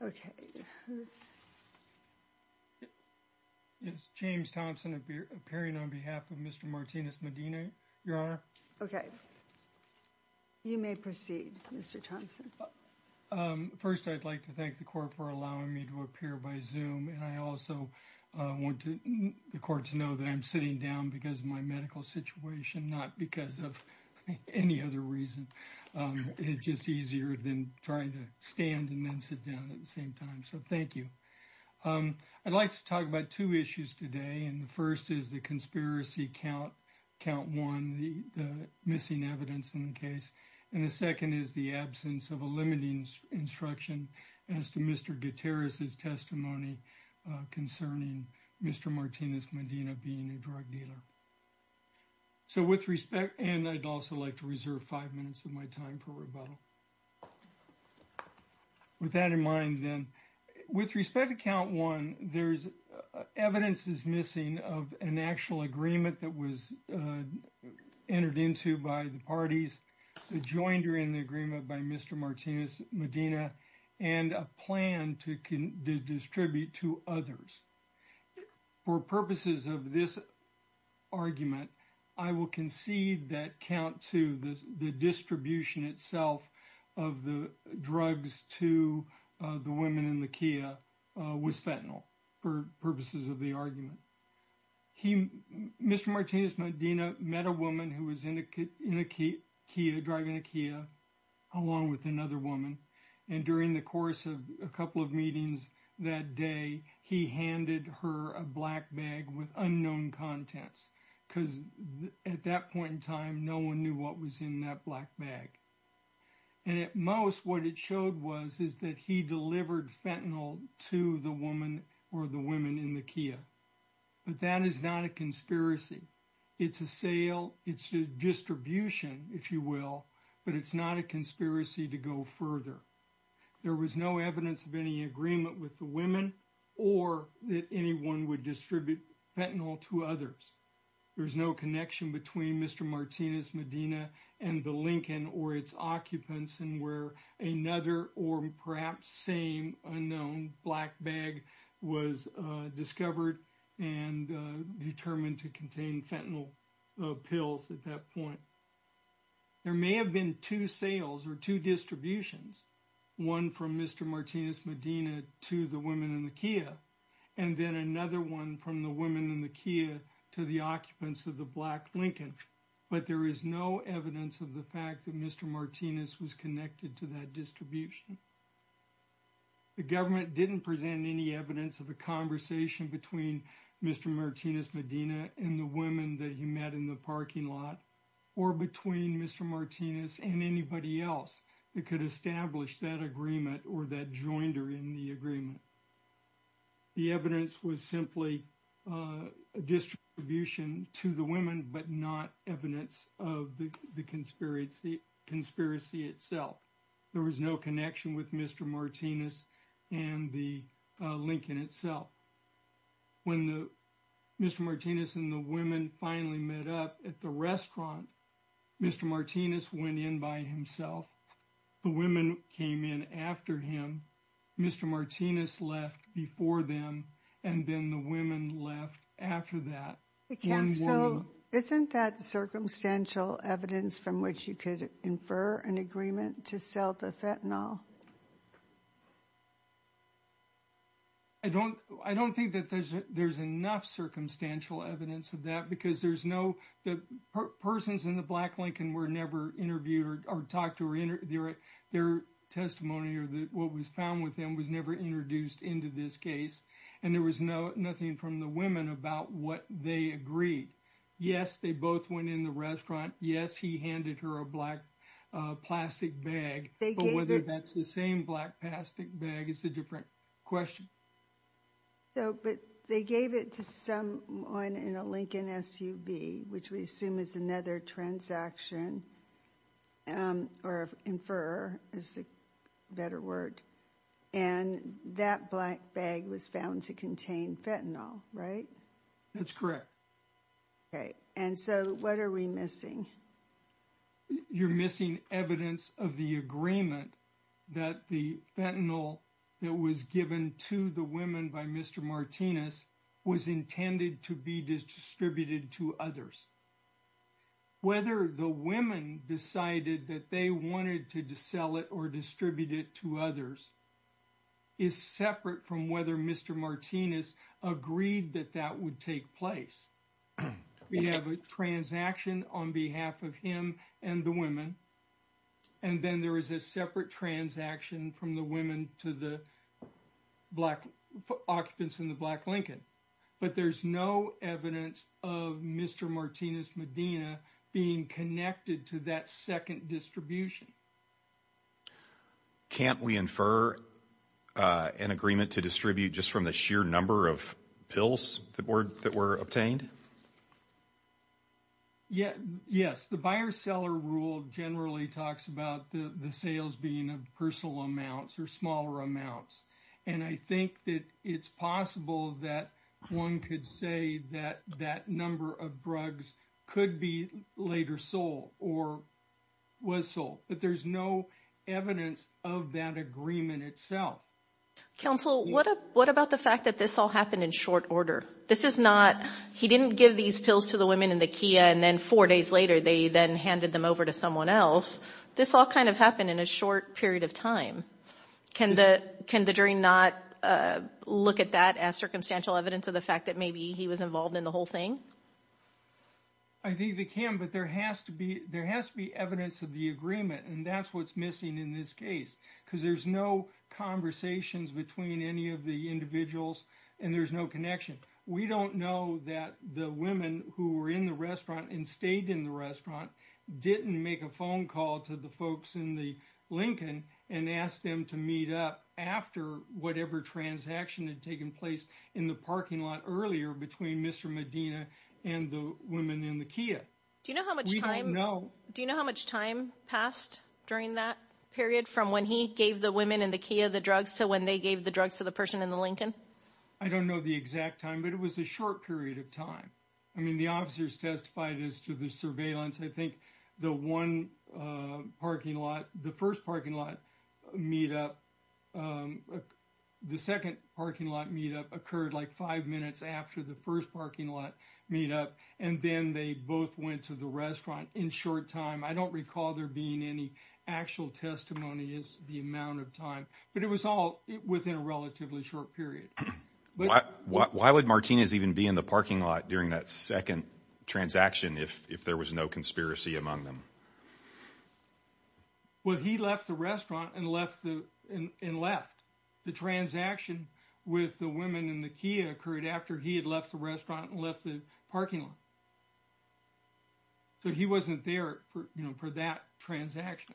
Medina, Your Honor. Okay. You may proceed, Mr Thompson. First, I'd like to thank the court for allowing me to appear by zoom, and I also want the court to know that I'm sitting down because of my medical situation, not because of any other reason. It's just easier than trying to stand and then sit down at the same time, so thank you. I'd like to talk about two issues today, and the first is the conspiracy count, count one, the missing evidence in the case, and the second is the absence of a limiting instruction as to Mr. Gutierrez's testimony concerning Mr. Martinez Medina being a drug dealer. So, with respect, and I'd also like to reserve five minutes of my time for rebuttal. With that in mind, then, with respect to count one, there's evidence is missing of an actual agreement that was entered into by the parties, joined during the agreement by Mr. Martinez Medina, and a plan to distribute to others. For purposes of this argument, I will concede that count two, the distribution itself of the drugs to the women in the Kia was fentanyl, for purposes of the argument. Mr. Martinez Medina met a woman who was in a Kia, driving a Kia, along with another woman, and during the course of a couple of meetings that day, he handed her a black bag with unknown contents, because at that point in time, no one knew what was in that black bag. And at most, what it showed was, is that he delivered fentanyl to the woman, or the women in the Kia. But that is not a conspiracy. It's a sale, it's a distribution, if you will, but it's not a conspiracy to go further. There was no evidence of any agreement with the women, or that anyone would distribute fentanyl to others. There's no connection between Mr. Martinez Medina and the Lincoln, or its occupants, and where another, or perhaps same, unknown black bag was discovered and determined to contain fentanyl pills at that point. There may have been two sales, or two distributions, one from Mr. Martinez Medina to the women in the Kia, and then another one from the women in the Kia to the occupants of the black Lincoln, but there is no evidence of the fact that Mr. Martinez was connected to that distribution. The government didn't present any evidence of a conversation between Mr. Martinez Medina and the women that he met in the parking lot, or between Mr. Martinez and anybody else that could establish that agreement, or that joined her in the agreement. The evidence was simply a distribution to the but not evidence of the conspiracy itself. There was no connection with Mr. Martinez and the Lincoln itself. When Mr. Martinez and the women finally met up at the restaurant, Mr. Martinez went in by himself. The women came in after him. Mr. Martinez left before them, and then the women left after that. Isn't that circumstantial evidence from which you could infer an agreement to sell the fentanyl? I don't think that there's enough circumstantial evidence of that, because there's no, the persons in the black Lincoln were never interviewed, or talked to, or their testimony, what was found with them was never introduced into this case, and there was nothing from the women about what they agreed. Yes, they both went in the restaurant. Yes, he handed her a black plastic bag, but whether that's the same black plastic bag is a different question. But they gave it to someone in a Lincoln SUV, which we assume is another transaction, or infer, is the better word, and that black bag was found to contain fentanyl, right? That's correct. Okay, and so what are we missing? You're missing evidence of the agreement that the fentanyl that was given to the women by Mr. Martinez was intended to be distributed to others. Whether the women decided that they wanted to sell it or distribute it to others is separate from whether Mr. Martinez agreed that that would take place. We have a transaction on behalf of him and the women, and then there is a separate transaction from the women to the black occupants in the black Lincoln. But there's no evidence of Mr. Martinez Medina being connected to that second distribution. Can't we infer an agreement to distribute just from the sheer number of pills that were obtained? Yes, the buyer-seller rule generally talks about the sales being of personal amounts or smaller amounts. And I think that it's possible that one could say that that number of drugs could be later sold or was sold, but there's no evidence of that agreement itself. Counsel, what about the fact that this all happened in short order? This is not, he didn't give these pills to the women in the Kia and then four days later they then handed them over to someone else. This all kind of happened in a short period of time. Can the jury not look at that as circumstantial evidence of the fact that maybe he was involved in the whole thing? I think they can, but there has to be evidence of the agreement, and that's what's missing in this case. Because there's no conversations between any of the individuals and there's no connection. We don't know that the women who were in the restaurant and stayed in the restaurant didn't make a phone call to the folks in the Lincoln and asked them to meet up after whatever transaction had taken place in the parking lot earlier between Mr. Medina and the women in the Kia. We don't know. Do you know how much time passed during that period from when he gave the women in the Kia the drugs to when they gave the drugs to the person in the Lincoln? I don't know the exact time, but it was a short period of time. I mean, the officers testified as to the surveillance. I think the one parking lot, the first parking lot meet up, the second parking lot meet up occurred like five minutes after the first parking lot meet up, and then they both went to the restaurant in short time. I don't recall there being any actual testimony as to the amount of time, but it was all within a relatively short period. Why would Martinez even be in the parking lot during that second transaction if there was no conspiracy among them? Well, he left the restaurant and left. The transaction with the women in the Kia occurred after he had left the restaurant and left the parking lot. So he wasn't there for that transaction.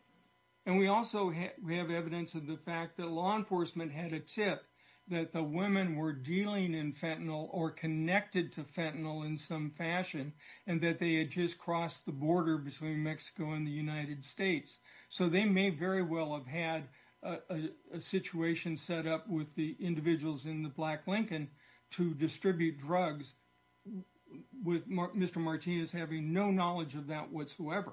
And we also have evidence of the fact that law enforcement had a tip that the women were dealing in fentanyl or connected to fentanyl in some fashion, and that they had just crossed the border between Mexico and the United States. So they may very well have had a situation set up with the individuals in the Black Lincoln to distribute drugs with Mr. Martinez having no knowledge of that whatsoever.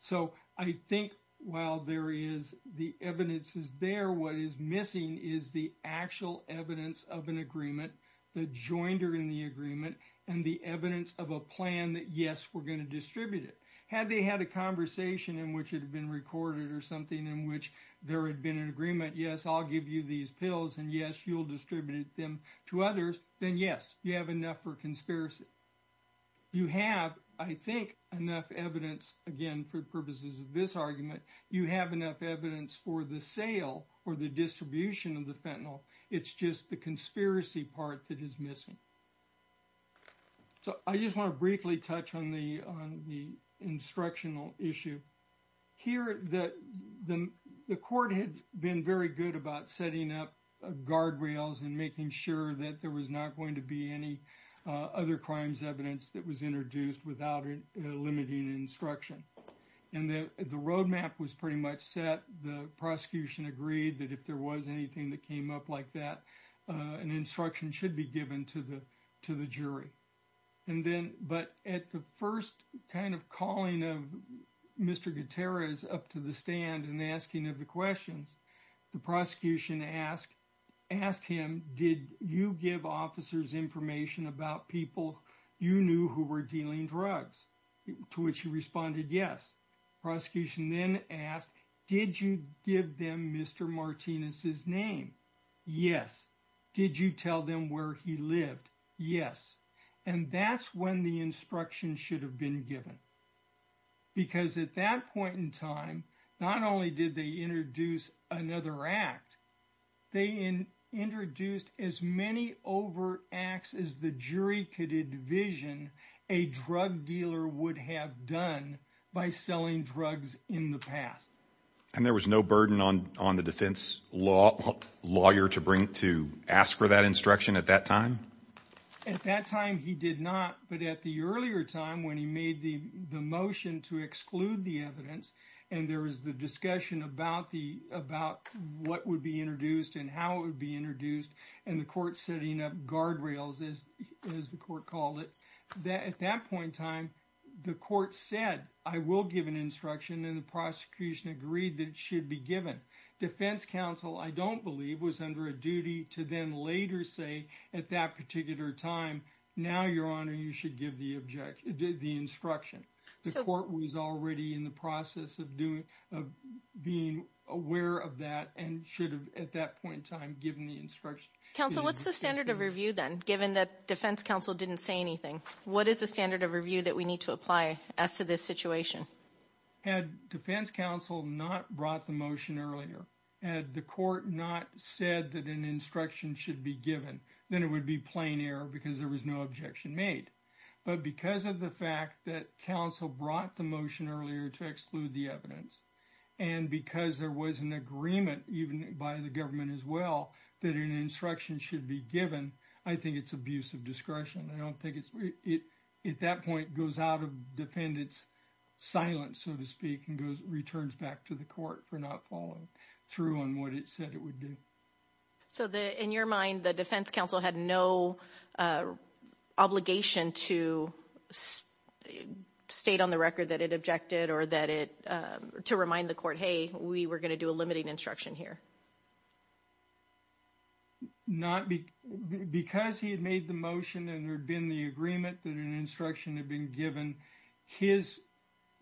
So I think while there is the evidence is there, what is missing is the actual evidence of an agreement, the jointer in the agreement, and the evidence of a plan that, yes, we're going to distribute it. Had they had a conversation in which it had been recorded or something in which there had been an agreement, yes, I'll give you these pills, and yes, you'll distribute them to others, then yes, you have enough for conspiracy. You have, I think, enough evidence, again, for the purposes of this argument, you have enough evidence for the sale or the distribution of the fentanyl. It's just the conspiracy part that is missing. So I just want to briefly touch on the instructional issue. Here, the court had been very good about setting up guardrails and making sure that there was not going to be any other crimes evidence that was introduced without limiting instruction. And the roadmap was pretty much set. The prosecution agreed that if there was anything that came up like that, an instruction should be given to the jury. But at the first kind of calling of Mr. Gutierrez up to the stand and asking him the questions, the prosecution asked him, did you give officers information about people you knew who were dealing drugs? To which he responded, yes. Prosecution then asked, did you give them Mr. Martinez's name? Yes. Did you tell them where he lived? Yes. And that's when the instruction should have been given. Because at that point in time, not only did they introduce another act, they introduced as many overt acts as the jury could envision a drug dealer would have done by selling drugs in the past. And there was no burden on the defense lawyer to ask for that instruction at that time? At that time, he did not. But at the earlier time, when he made the motion to exclude the evidence, and there was the discussion about what would be introduced and how it would be introduced, and the court setting up guardrails, as the court called it. At that point in time, the court said, I will give an instruction and the prosecution agreed that it should be given. Defense counsel, I don't believe, was under a duty to then later say at that particular time, now, your honor, you should give the instruction. The court was already in the process of being aware of that and should have at that point in time given the instruction. Counsel, what's the standard of review then, given that defense counsel didn't say anything? What is the standard of review that we need to apply as to this situation? Had defense counsel not brought the motion earlier, had the court not said that an instruction should be given, then it would be plain error because there was no objection made. But because of the fact that counsel brought the motion earlier to exclude the evidence, and because there was an agreement, even by the government as well, that an instruction should be given, I think it's I don't think it's, at that point, goes out of defendant's silence, so to speak, and goes, returns back to the court for not following through on what it said it would do. So the, in your mind, the defense counsel had no obligation to state on the record that it objected or that it, to remind the court, hey, we were going to do a limiting instruction here? Not, because he had made the motion and there had been the agreement that an instruction had been given, his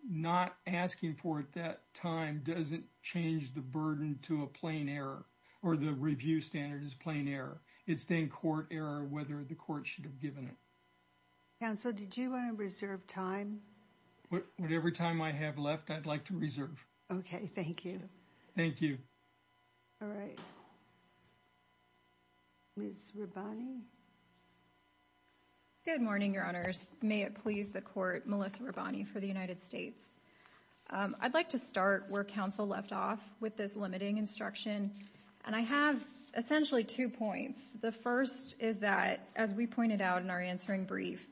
not asking for it at that time doesn't change the burden to a plain error, or the review standard is plain error. It's then court error, whether the court should have given it. Counsel, did you want to reserve time? Whatever time I have left, I'd like to reserve. Okay, thank you. Thank you. All right. Ms. Rabbani? Good morning, your honors. May it please the court, Melissa Rabbani for the United States. I'd like to start where counsel left off with this limiting instruction, and I have essentially two points. The first is that, as we pointed out in our answering brief,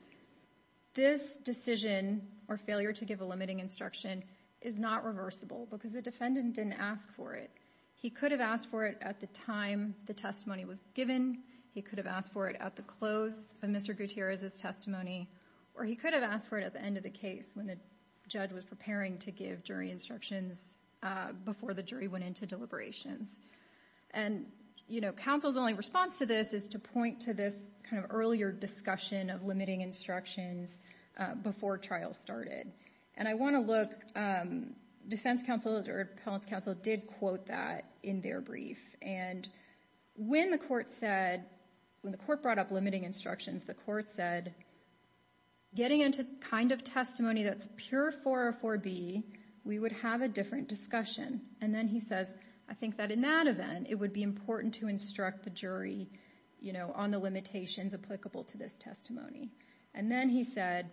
this decision, or failure to give a limiting instruction, is not reversible, because the defendant didn't ask for it. He could have asked for it at the time the testimony was given. He could have asked for it at the close of Mr. Gutierrez's testimony, or he could have asked for it at the end of the case when the judge was preparing to give jury instructions before the jury went into deliberations. Counsel's only response to this is to point to this earlier discussion of limiting instructions before trial started. And I want to look, defense counsel or appellant's counsel did quote that in their brief. And when the court said, when the court brought up limiting instructions, the court said, getting into kind of testimony that's pure 404B, we would have a different discussion. And then he says, I think that in that event, it would be important to instruct the jury, you know, on the limitations applicable to this testimony. And then he said,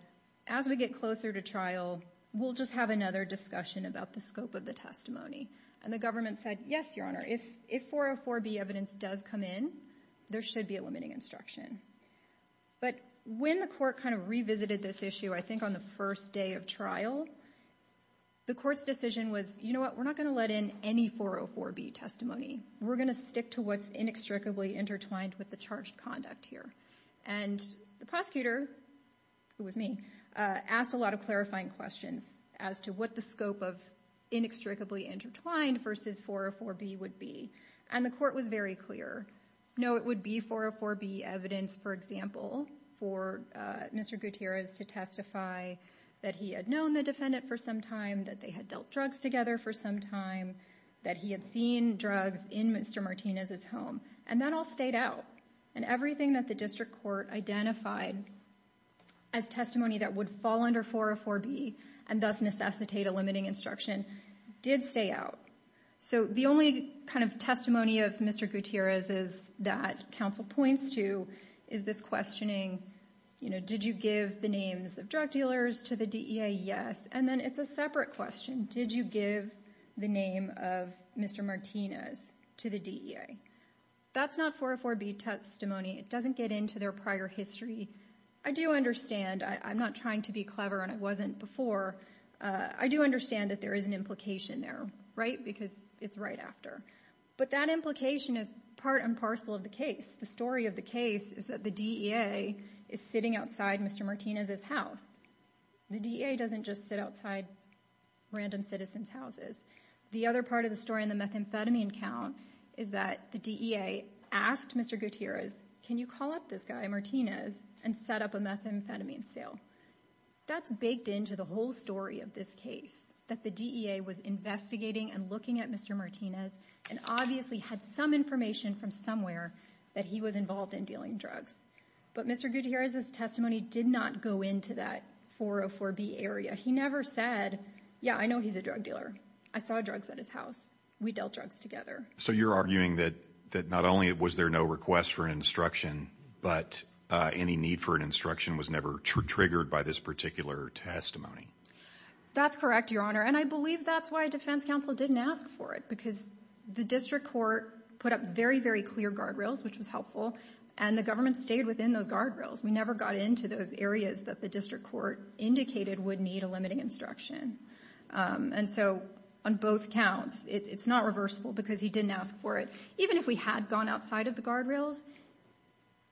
as we get closer to trial, we'll just have another discussion about the scope of the testimony. And the government said, yes, your honor, if 404B evidence does come in, there should be a limiting instruction. But when the court kind of revisited this issue, I think on the first day of trial, the court's decision was, you know what, we're not going to let in any 404B testimony. We're going to stick to what's inextricably intertwined with the charged conduct here. And the prosecutor, who was me, asked a lot of clarifying questions as to what the scope of inextricably intertwined versus 404B would be. And the court was very clear, no, it would be 404B evidence, for example, for Mr. Gutierrez to testify that he had known the defendant for some time, that they had dealt drugs together for some time, that he had seen drugs in Mr. Martinez's home. And that all stayed out. And everything that the district court identified as testimony that would fall under 404B and thus necessitate a limiting instruction did stay out. So the only kind of testimony of Mr. Gutierrez is that counsel points to is this questioning, you know, did you give the names of drug dealers to the DEA? Yes. And then it's a separate question. Did you give the name of Mr. Martinez to the DEA? That's not 404B testimony. It doesn't get into their prior history. I do understand. I'm not trying to be clever, and I wasn't before. I do understand that there is an implication there, right? Because it's right after. But that implication is part and parcel of the case. The story of the case is that the DEA is sitting outside Mr. Martinez's house. The DEA doesn't just sit outside random citizens' houses. The other part of the story in the methamphetamine count is that the DEA asked Mr. Gutierrez, can you call up this guy, Martinez, and set up a methamphetamine sale? That's baked into the whole story of this case, that the DEA was investigating and looking at Mr. Martinez and obviously had some information from somewhere that he was involved in dealing drugs. But Mr. Gutierrez's testimony did not go into that 404B area. He never said, yeah, I know he's a drug dealer. I saw drugs at his house. We dealt drugs together. So you're arguing that not only was there no request for instruction, but any need for an instruction was never triggered by this particular testimony? That's correct, Your Honor. And I believe that's why defense counsel didn't ask for it, because the district court put up very, very clear guardrails, which was helpful. And the government stayed within those guardrails. We never got into those areas that the district court indicated would need a limiting instruction. And so on both counts, it's not reversible because he didn't ask for it. Even if we had gone outside of the guardrails,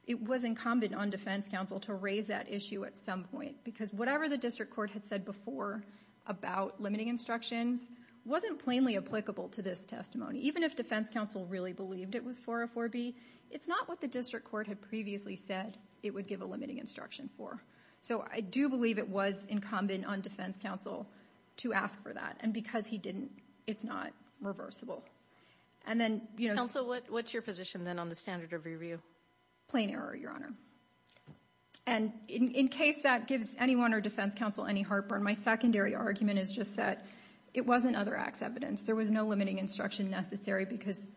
it was incumbent on defense counsel to raise that issue at some point, because whatever the district court had said before about limiting instructions wasn't plainly applicable to this testimony. Even if defense counsel really believed it was 404B, it's not what the district court had previously said it would give a limiting instruction for. So I do believe it was incumbent on defense counsel to ask for that. And because he didn't, it's not reversible. And then, you know... Counsel, what's your position then on the standard of review? Plain error, Your Honor. And in case that gives anyone or defense counsel any heartburn, my secondary argument is just that it wasn't other acts evidence. There was no limiting instruction necessary, because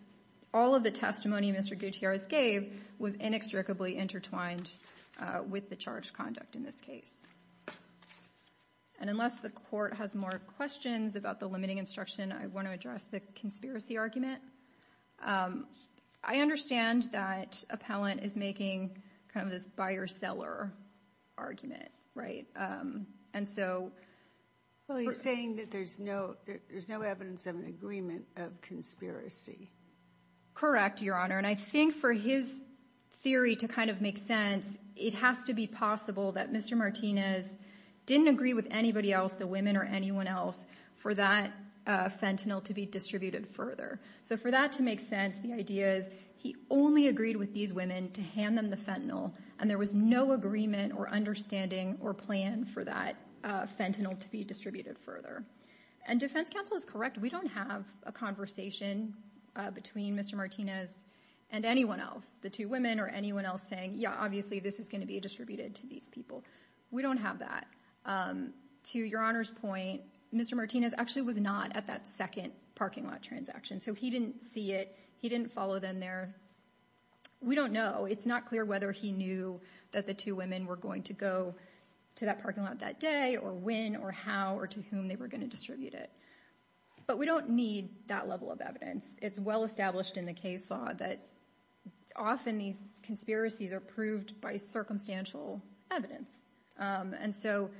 all of the testimony Mr. Gutierrez gave was inextricably intertwined with the charged conduct in this case. And unless the court has more questions about the limiting instruction, I want to address the conspiracy argument. I understand that Appellant is making kind of this buyer-seller argument, right? And so... Well, he's saying that there's no evidence of an agreement of conspiracy. Correct, Your Honor. And I think for his theory to kind of make sense, it has to be possible that Mr. Martinez didn't agree with anybody else, the women or anyone else, for that fentanyl to be distributed further. So for that to make sense, the idea is he only agreed with these women to hand them the fentanyl, and there was no agreement or understanding or plan for that fentanyl to be distributed further. And defense counsel is correct. We don't have a conversation between Mr. Martinez and anyone else, the two women or anyone else saying, yeah, obviously this is going to be distributed to these people. We don't have that. To Your Honor's point, Mr. Martinez actually was not at that second parking lot transaction. So he didn't see it. He didn't follow them there. We don't know. It's not clear whether he knew that the two women were going to go to that parking lot that day or when or how or to whom they were going to distribute it. But we don't need that level of evidence. It's well established in the case law that often these conspiracies are proved by circumstantial evidence. And so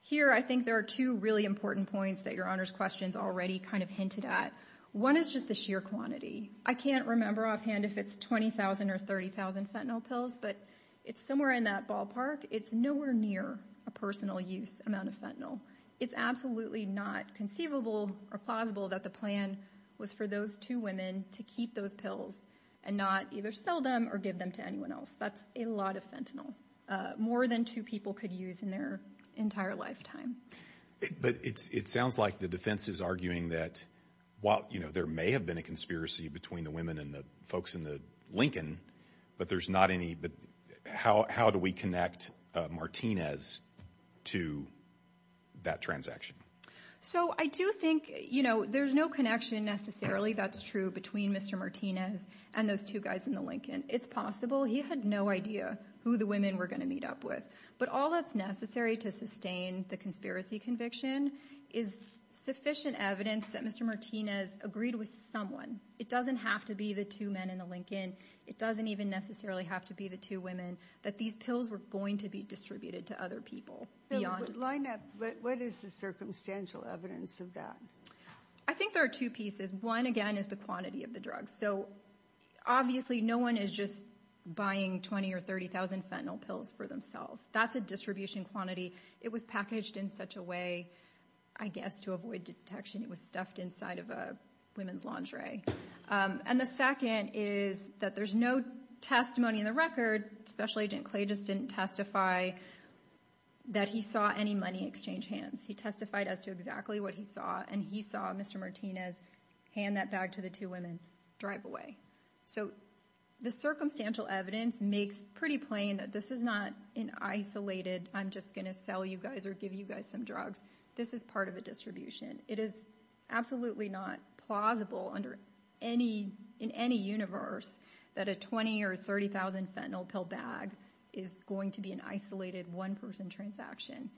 here I think there are two really important points that Your Honor's questions already kind of hinted at. One is just the sheer quantity. I can't remember offhand if it's 20,000 or 30,000 fentanyl pills, but it's somewhere in that ballpark. It's nowhere near a personal use amount of fentanyl. It's absolutely not conceivable or plausible that the plan was for those two women to keep those pills and not either sell them or give them to anyone else. That's a lot of fentanyl. More than two people could use in their entire lifetime. But it sounds like the defense is arguing that while there may have been a conspiracy between the women and the folks in the Lincoln, but there's not any. How do we connect Martinez to that transaction? So I do think, you know, there's no connection necessarily, that's true, between Mr. Martinez and those two guys in the Lincoln. It's possible. He had no idea who the women were going to meet up with. But all that's necessary to sustain the conspiracy conviction is sufficient evidence that Mr. Martinez agreed with someone. It doesn't have to be the two men in the Lincoln. It doesn't even necessarily have to be the two women that these pills were going to be distributed to other people. What is the circumstantial evidence of that? I think there are two pieces. One, again, is the quantity of the drugs. So obviously no one is just buying 20 or 30,000 fentanyl pills for themselves. That's a distribution quantity. It was packaged in such a way, I guess, to avoid detection. It was stuffed inside of a women's lingerie. And the second is that there's no testimony in the record. Special Agent Clay just didn't testify that he saw any money exchange hands. He testified as to exactly what he saw, and he saw Mr. Martinez hand that bag to the two women, drive away. So the circumstantial evidence makes pretty plain that this is not an isolated, I'm just going to sell you guys or give you guys some drugs. This is part of a distribution. It is absolutely not plausible in any universe that a 20,000 or 30,000 fentanyl pill bag is going to be an isolated one-person transaction.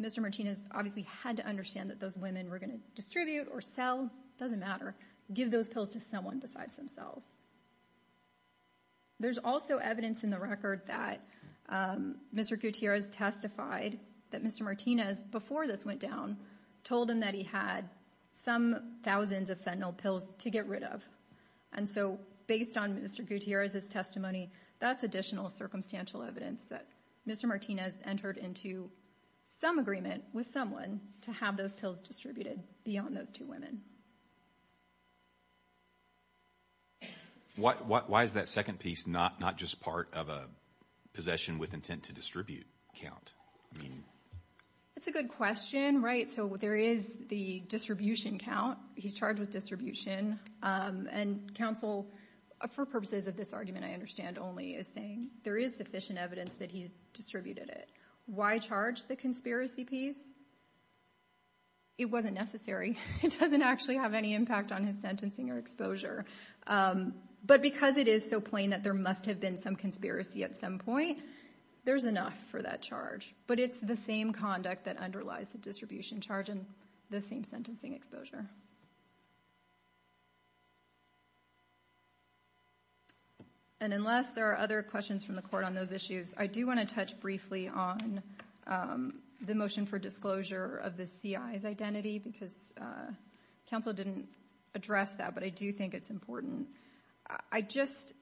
Mr. Martinez obviously had to understand that those women were going to distribute or sell. It doesn't matter. Give those pills to someone besides themselves. There's also evidence in the record that Mr. Gutierrez testified that Mr. Martinez, before this went down, told him that he had some thousands of fentanyl pills to get rid of. And so based on Mr. Gutierrez's testimony, that's additional circumstantial evidence that Mr. Martinez entered into some agreement with someone to have those pills distributed beyond those two women. Why is that second piece not just part of a possession with intent to distribute count? It's a good question, right? There is the distribution count. He's charged with distribution. And counsel, for purposes of this argument I understand only, is saying there is sufficient evidence that he's distributed it. Why charge the conspiracy piece? It wasn't necessary. It doesn't actually have any impact on his sentencing or exposure. But because it is so plain that there must have been some conspiracy at some point, there's enough for that charge. But it's the same conduct that underlies the distribution charge and the same sentencing exposure. And unless there are other questions from the court on those issues, I do want to touch briefly on the motion for disclosure of the CI's identity because counsel didn't address that, but I do think it's important. I just,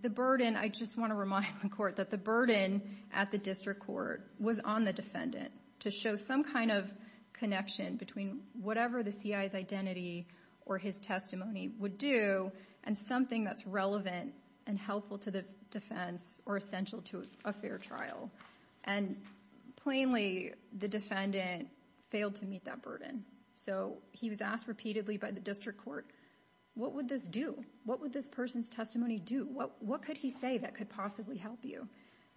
the burden, I just want to remind the court that the burden at the district court was on the defendant to show some kind of connection between whatever the CI's identity or his testimony would do and something that's relevant and helpful to the defense or essential to a fair trial. And plainly, the defendant failed to meet that burden. So he was asked repeatedly by the district court, what would this do? What would this person's testimony do? What could he say that could possibly help you?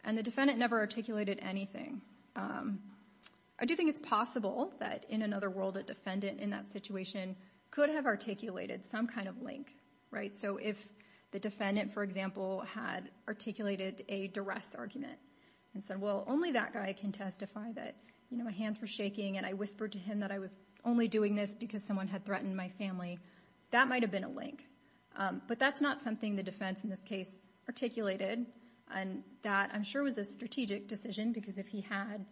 And the defendant never articulated anything. I do think it's possible that in another world, a defendant in that situation could have articulated some kind of link, right? So if the defendant, for example, had articulated a duress argument and said, well, only that guy can testify that my hands were shaking and I whispered to him that I was only doing this because someone had threatened my family, that might have been a link. But that's not something the defense in this case articulated and that I'm sure was a strategic decision because if he had,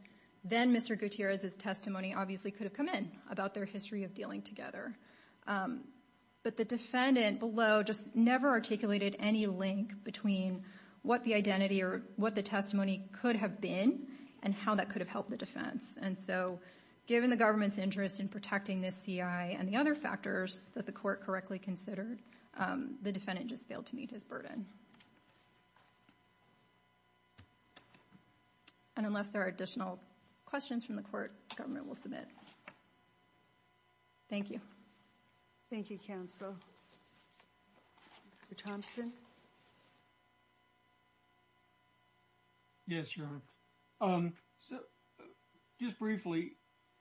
then Mr. Gutierrez's testimony obviously could have come in about their history of dealing together. But the defendant below just never articulated any link between what the identity or what the testimony could have been and how that could have helped the defense. And so given the government's interest in protecting this CI and the other factors that the court correctly considered, the defendant just failed to meet his burden. And unless there are additional questions from the court, government will submit. Thank you. Thank you, counsel. Mr. Thompson. Yes, Your Honor. Just briefly,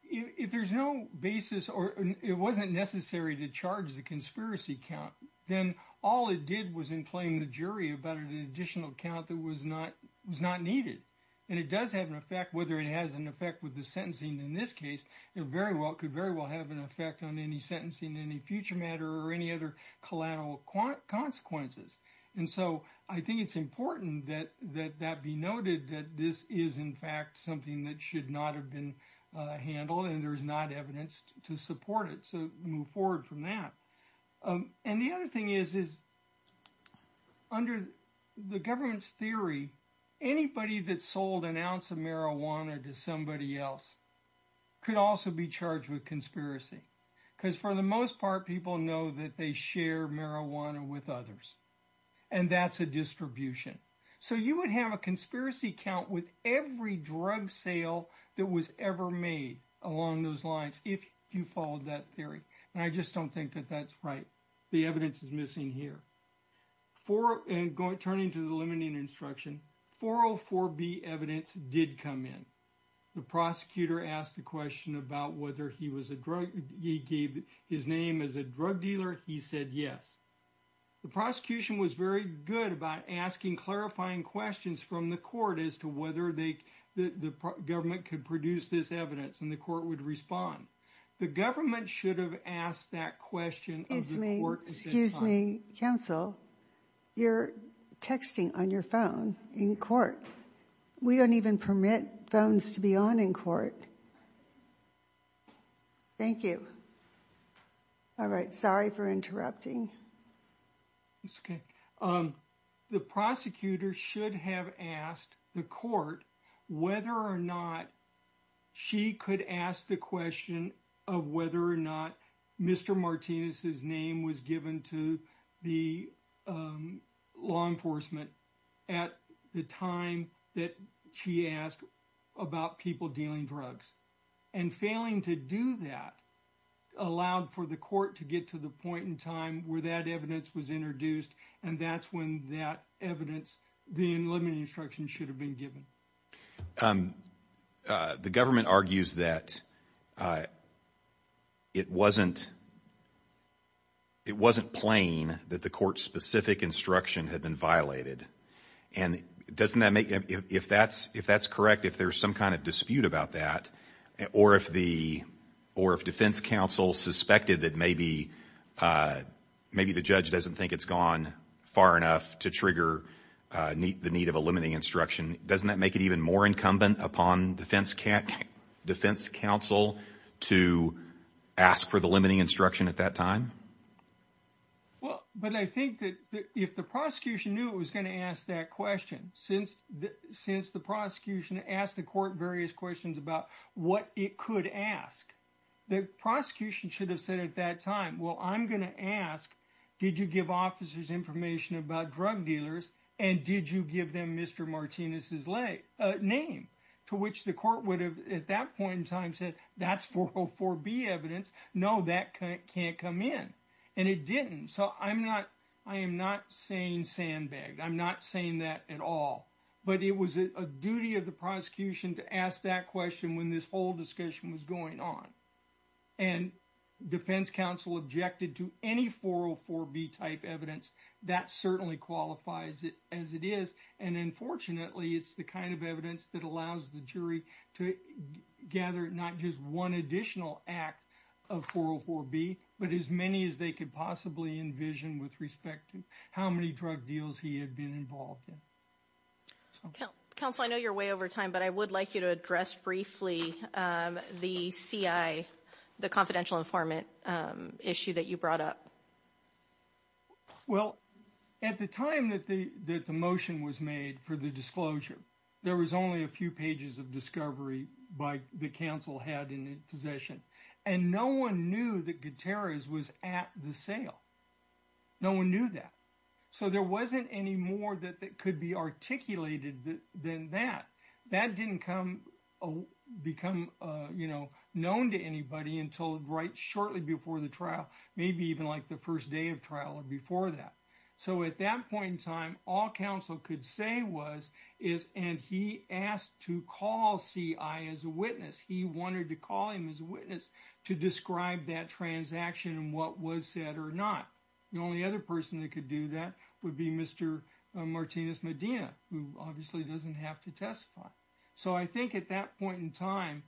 if there's no basis or it wasn't necessary to charge the conspiracy count, then all it did was inflame the jury about an additional count that was not needed. And it does have an effect, whether it has an effect with the sentencing in this case, it could very well have an effect on any sentencing, any future matter or any other collateral consequences. And so I think it's important that that be noted that this is in fact something that should not have been handled and there's not evidence to support it. So move forward from that. And the other thing is, is under the government's theory, anybody that sold an ounce of marijuana to somebody else could also be charged with conspiracy. Because for the most part, people know that they share marijuana with others. And that's a distribution. So you would have a conspiracy count with every drug sale that was ever made along those lines if you followed that theory. And I just don't think that that's right. The evidence is missing here. Turning to the limiting instruction, 404B evidence did come in. The prosecutor asked the question about whether he gave his name as a drug dealer. He said yes. The prosecution was very good about asking clarifying questions from the court as to whether the government could produce this evidence and the court would respond. The government should have asked that question of the court at this time. Excuse me, counsel. You're texting on your phone in court. We don't even permit phones to be on in court. Thank you. All right. Sorry for interrupting. It's okay. The prosecutor should have asked the court whether or not she could ask the question of whether or not Mr. Martinez's name was given to the law enforcement at the time that she asked about people dealing drugs. And failing to do that allowed for the court to get to the point in time where that evidence was introduced. And that's when that evidence, the limiting instruction should have been given. The government argues that it wasn't plain that the court's specific instruction had been violated. And if that's correct, if there's some kind of dispute about that, or if defense counsel suspected that maybe the judge doesn't think it's gone far enough to trigger the need of a limiting instruction, doesn't that make it even more incumbent upon defense counsel to ask for the limiting instruction at that time? Well, but I think that if the prosecution knew it was going to ask that question, since the prosecution asked the court various questions about what it could ask, the prosecution should have said at that time, well, I'm going to ask, did you give officers information about drug dealers? And did you give them Mr. Martinez's name? To which the court would have at that point in time said, that's 404B evidence. No, that can't come in. And it didn't. So I'm not, I am not saying sandbagged. I'm not saying that at all. But it was a duty of the prosecution to ask that question when this whole discussion was going on. And defense counsel objected to any 404B type evidence. That certainly qualifies it as it is. And unfortunately, it's the kind of evidence that allows the jury to gather not just one additional act of 404B, but as many as they could possibly envision with respect to how many drug deals he had been involved in. Counsel, I know you're way over time, but I would like you to address briefly the CI, the confidential informant issue that you brought up. Well, at the time that the motion was made for the disclosure, there was only a few pages of discovery by the counsel had in possession. And no one knew that Gutierrez was at the sale. No one knew that. So there wasn't any more that could be articulated than that. That didn't become known to anybody until right shortly before the trial, maybe even like the first day of trial or before that. So at that point in time, all counsel could say was, is and he asked to call CI as a witness. He wanted to call him as a witness to describe that transaction and what was said or not. The only other person that could do that would be Mr. Martinez Medina, who obviously doesn't have to testify. So I think at that point in time,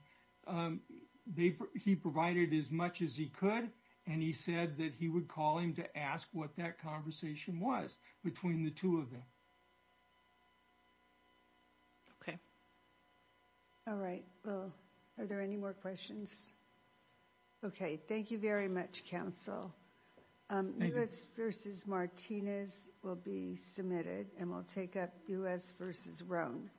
he provided as much as he could. And he said that he would call him to ask what that conversation was between the two of them. Okay. All right. Are there any more questions? Okay. Thank you very much, counsel. U.S. versus Martinez will be submitted and we'll take up U.S. versus Roan. Thank you.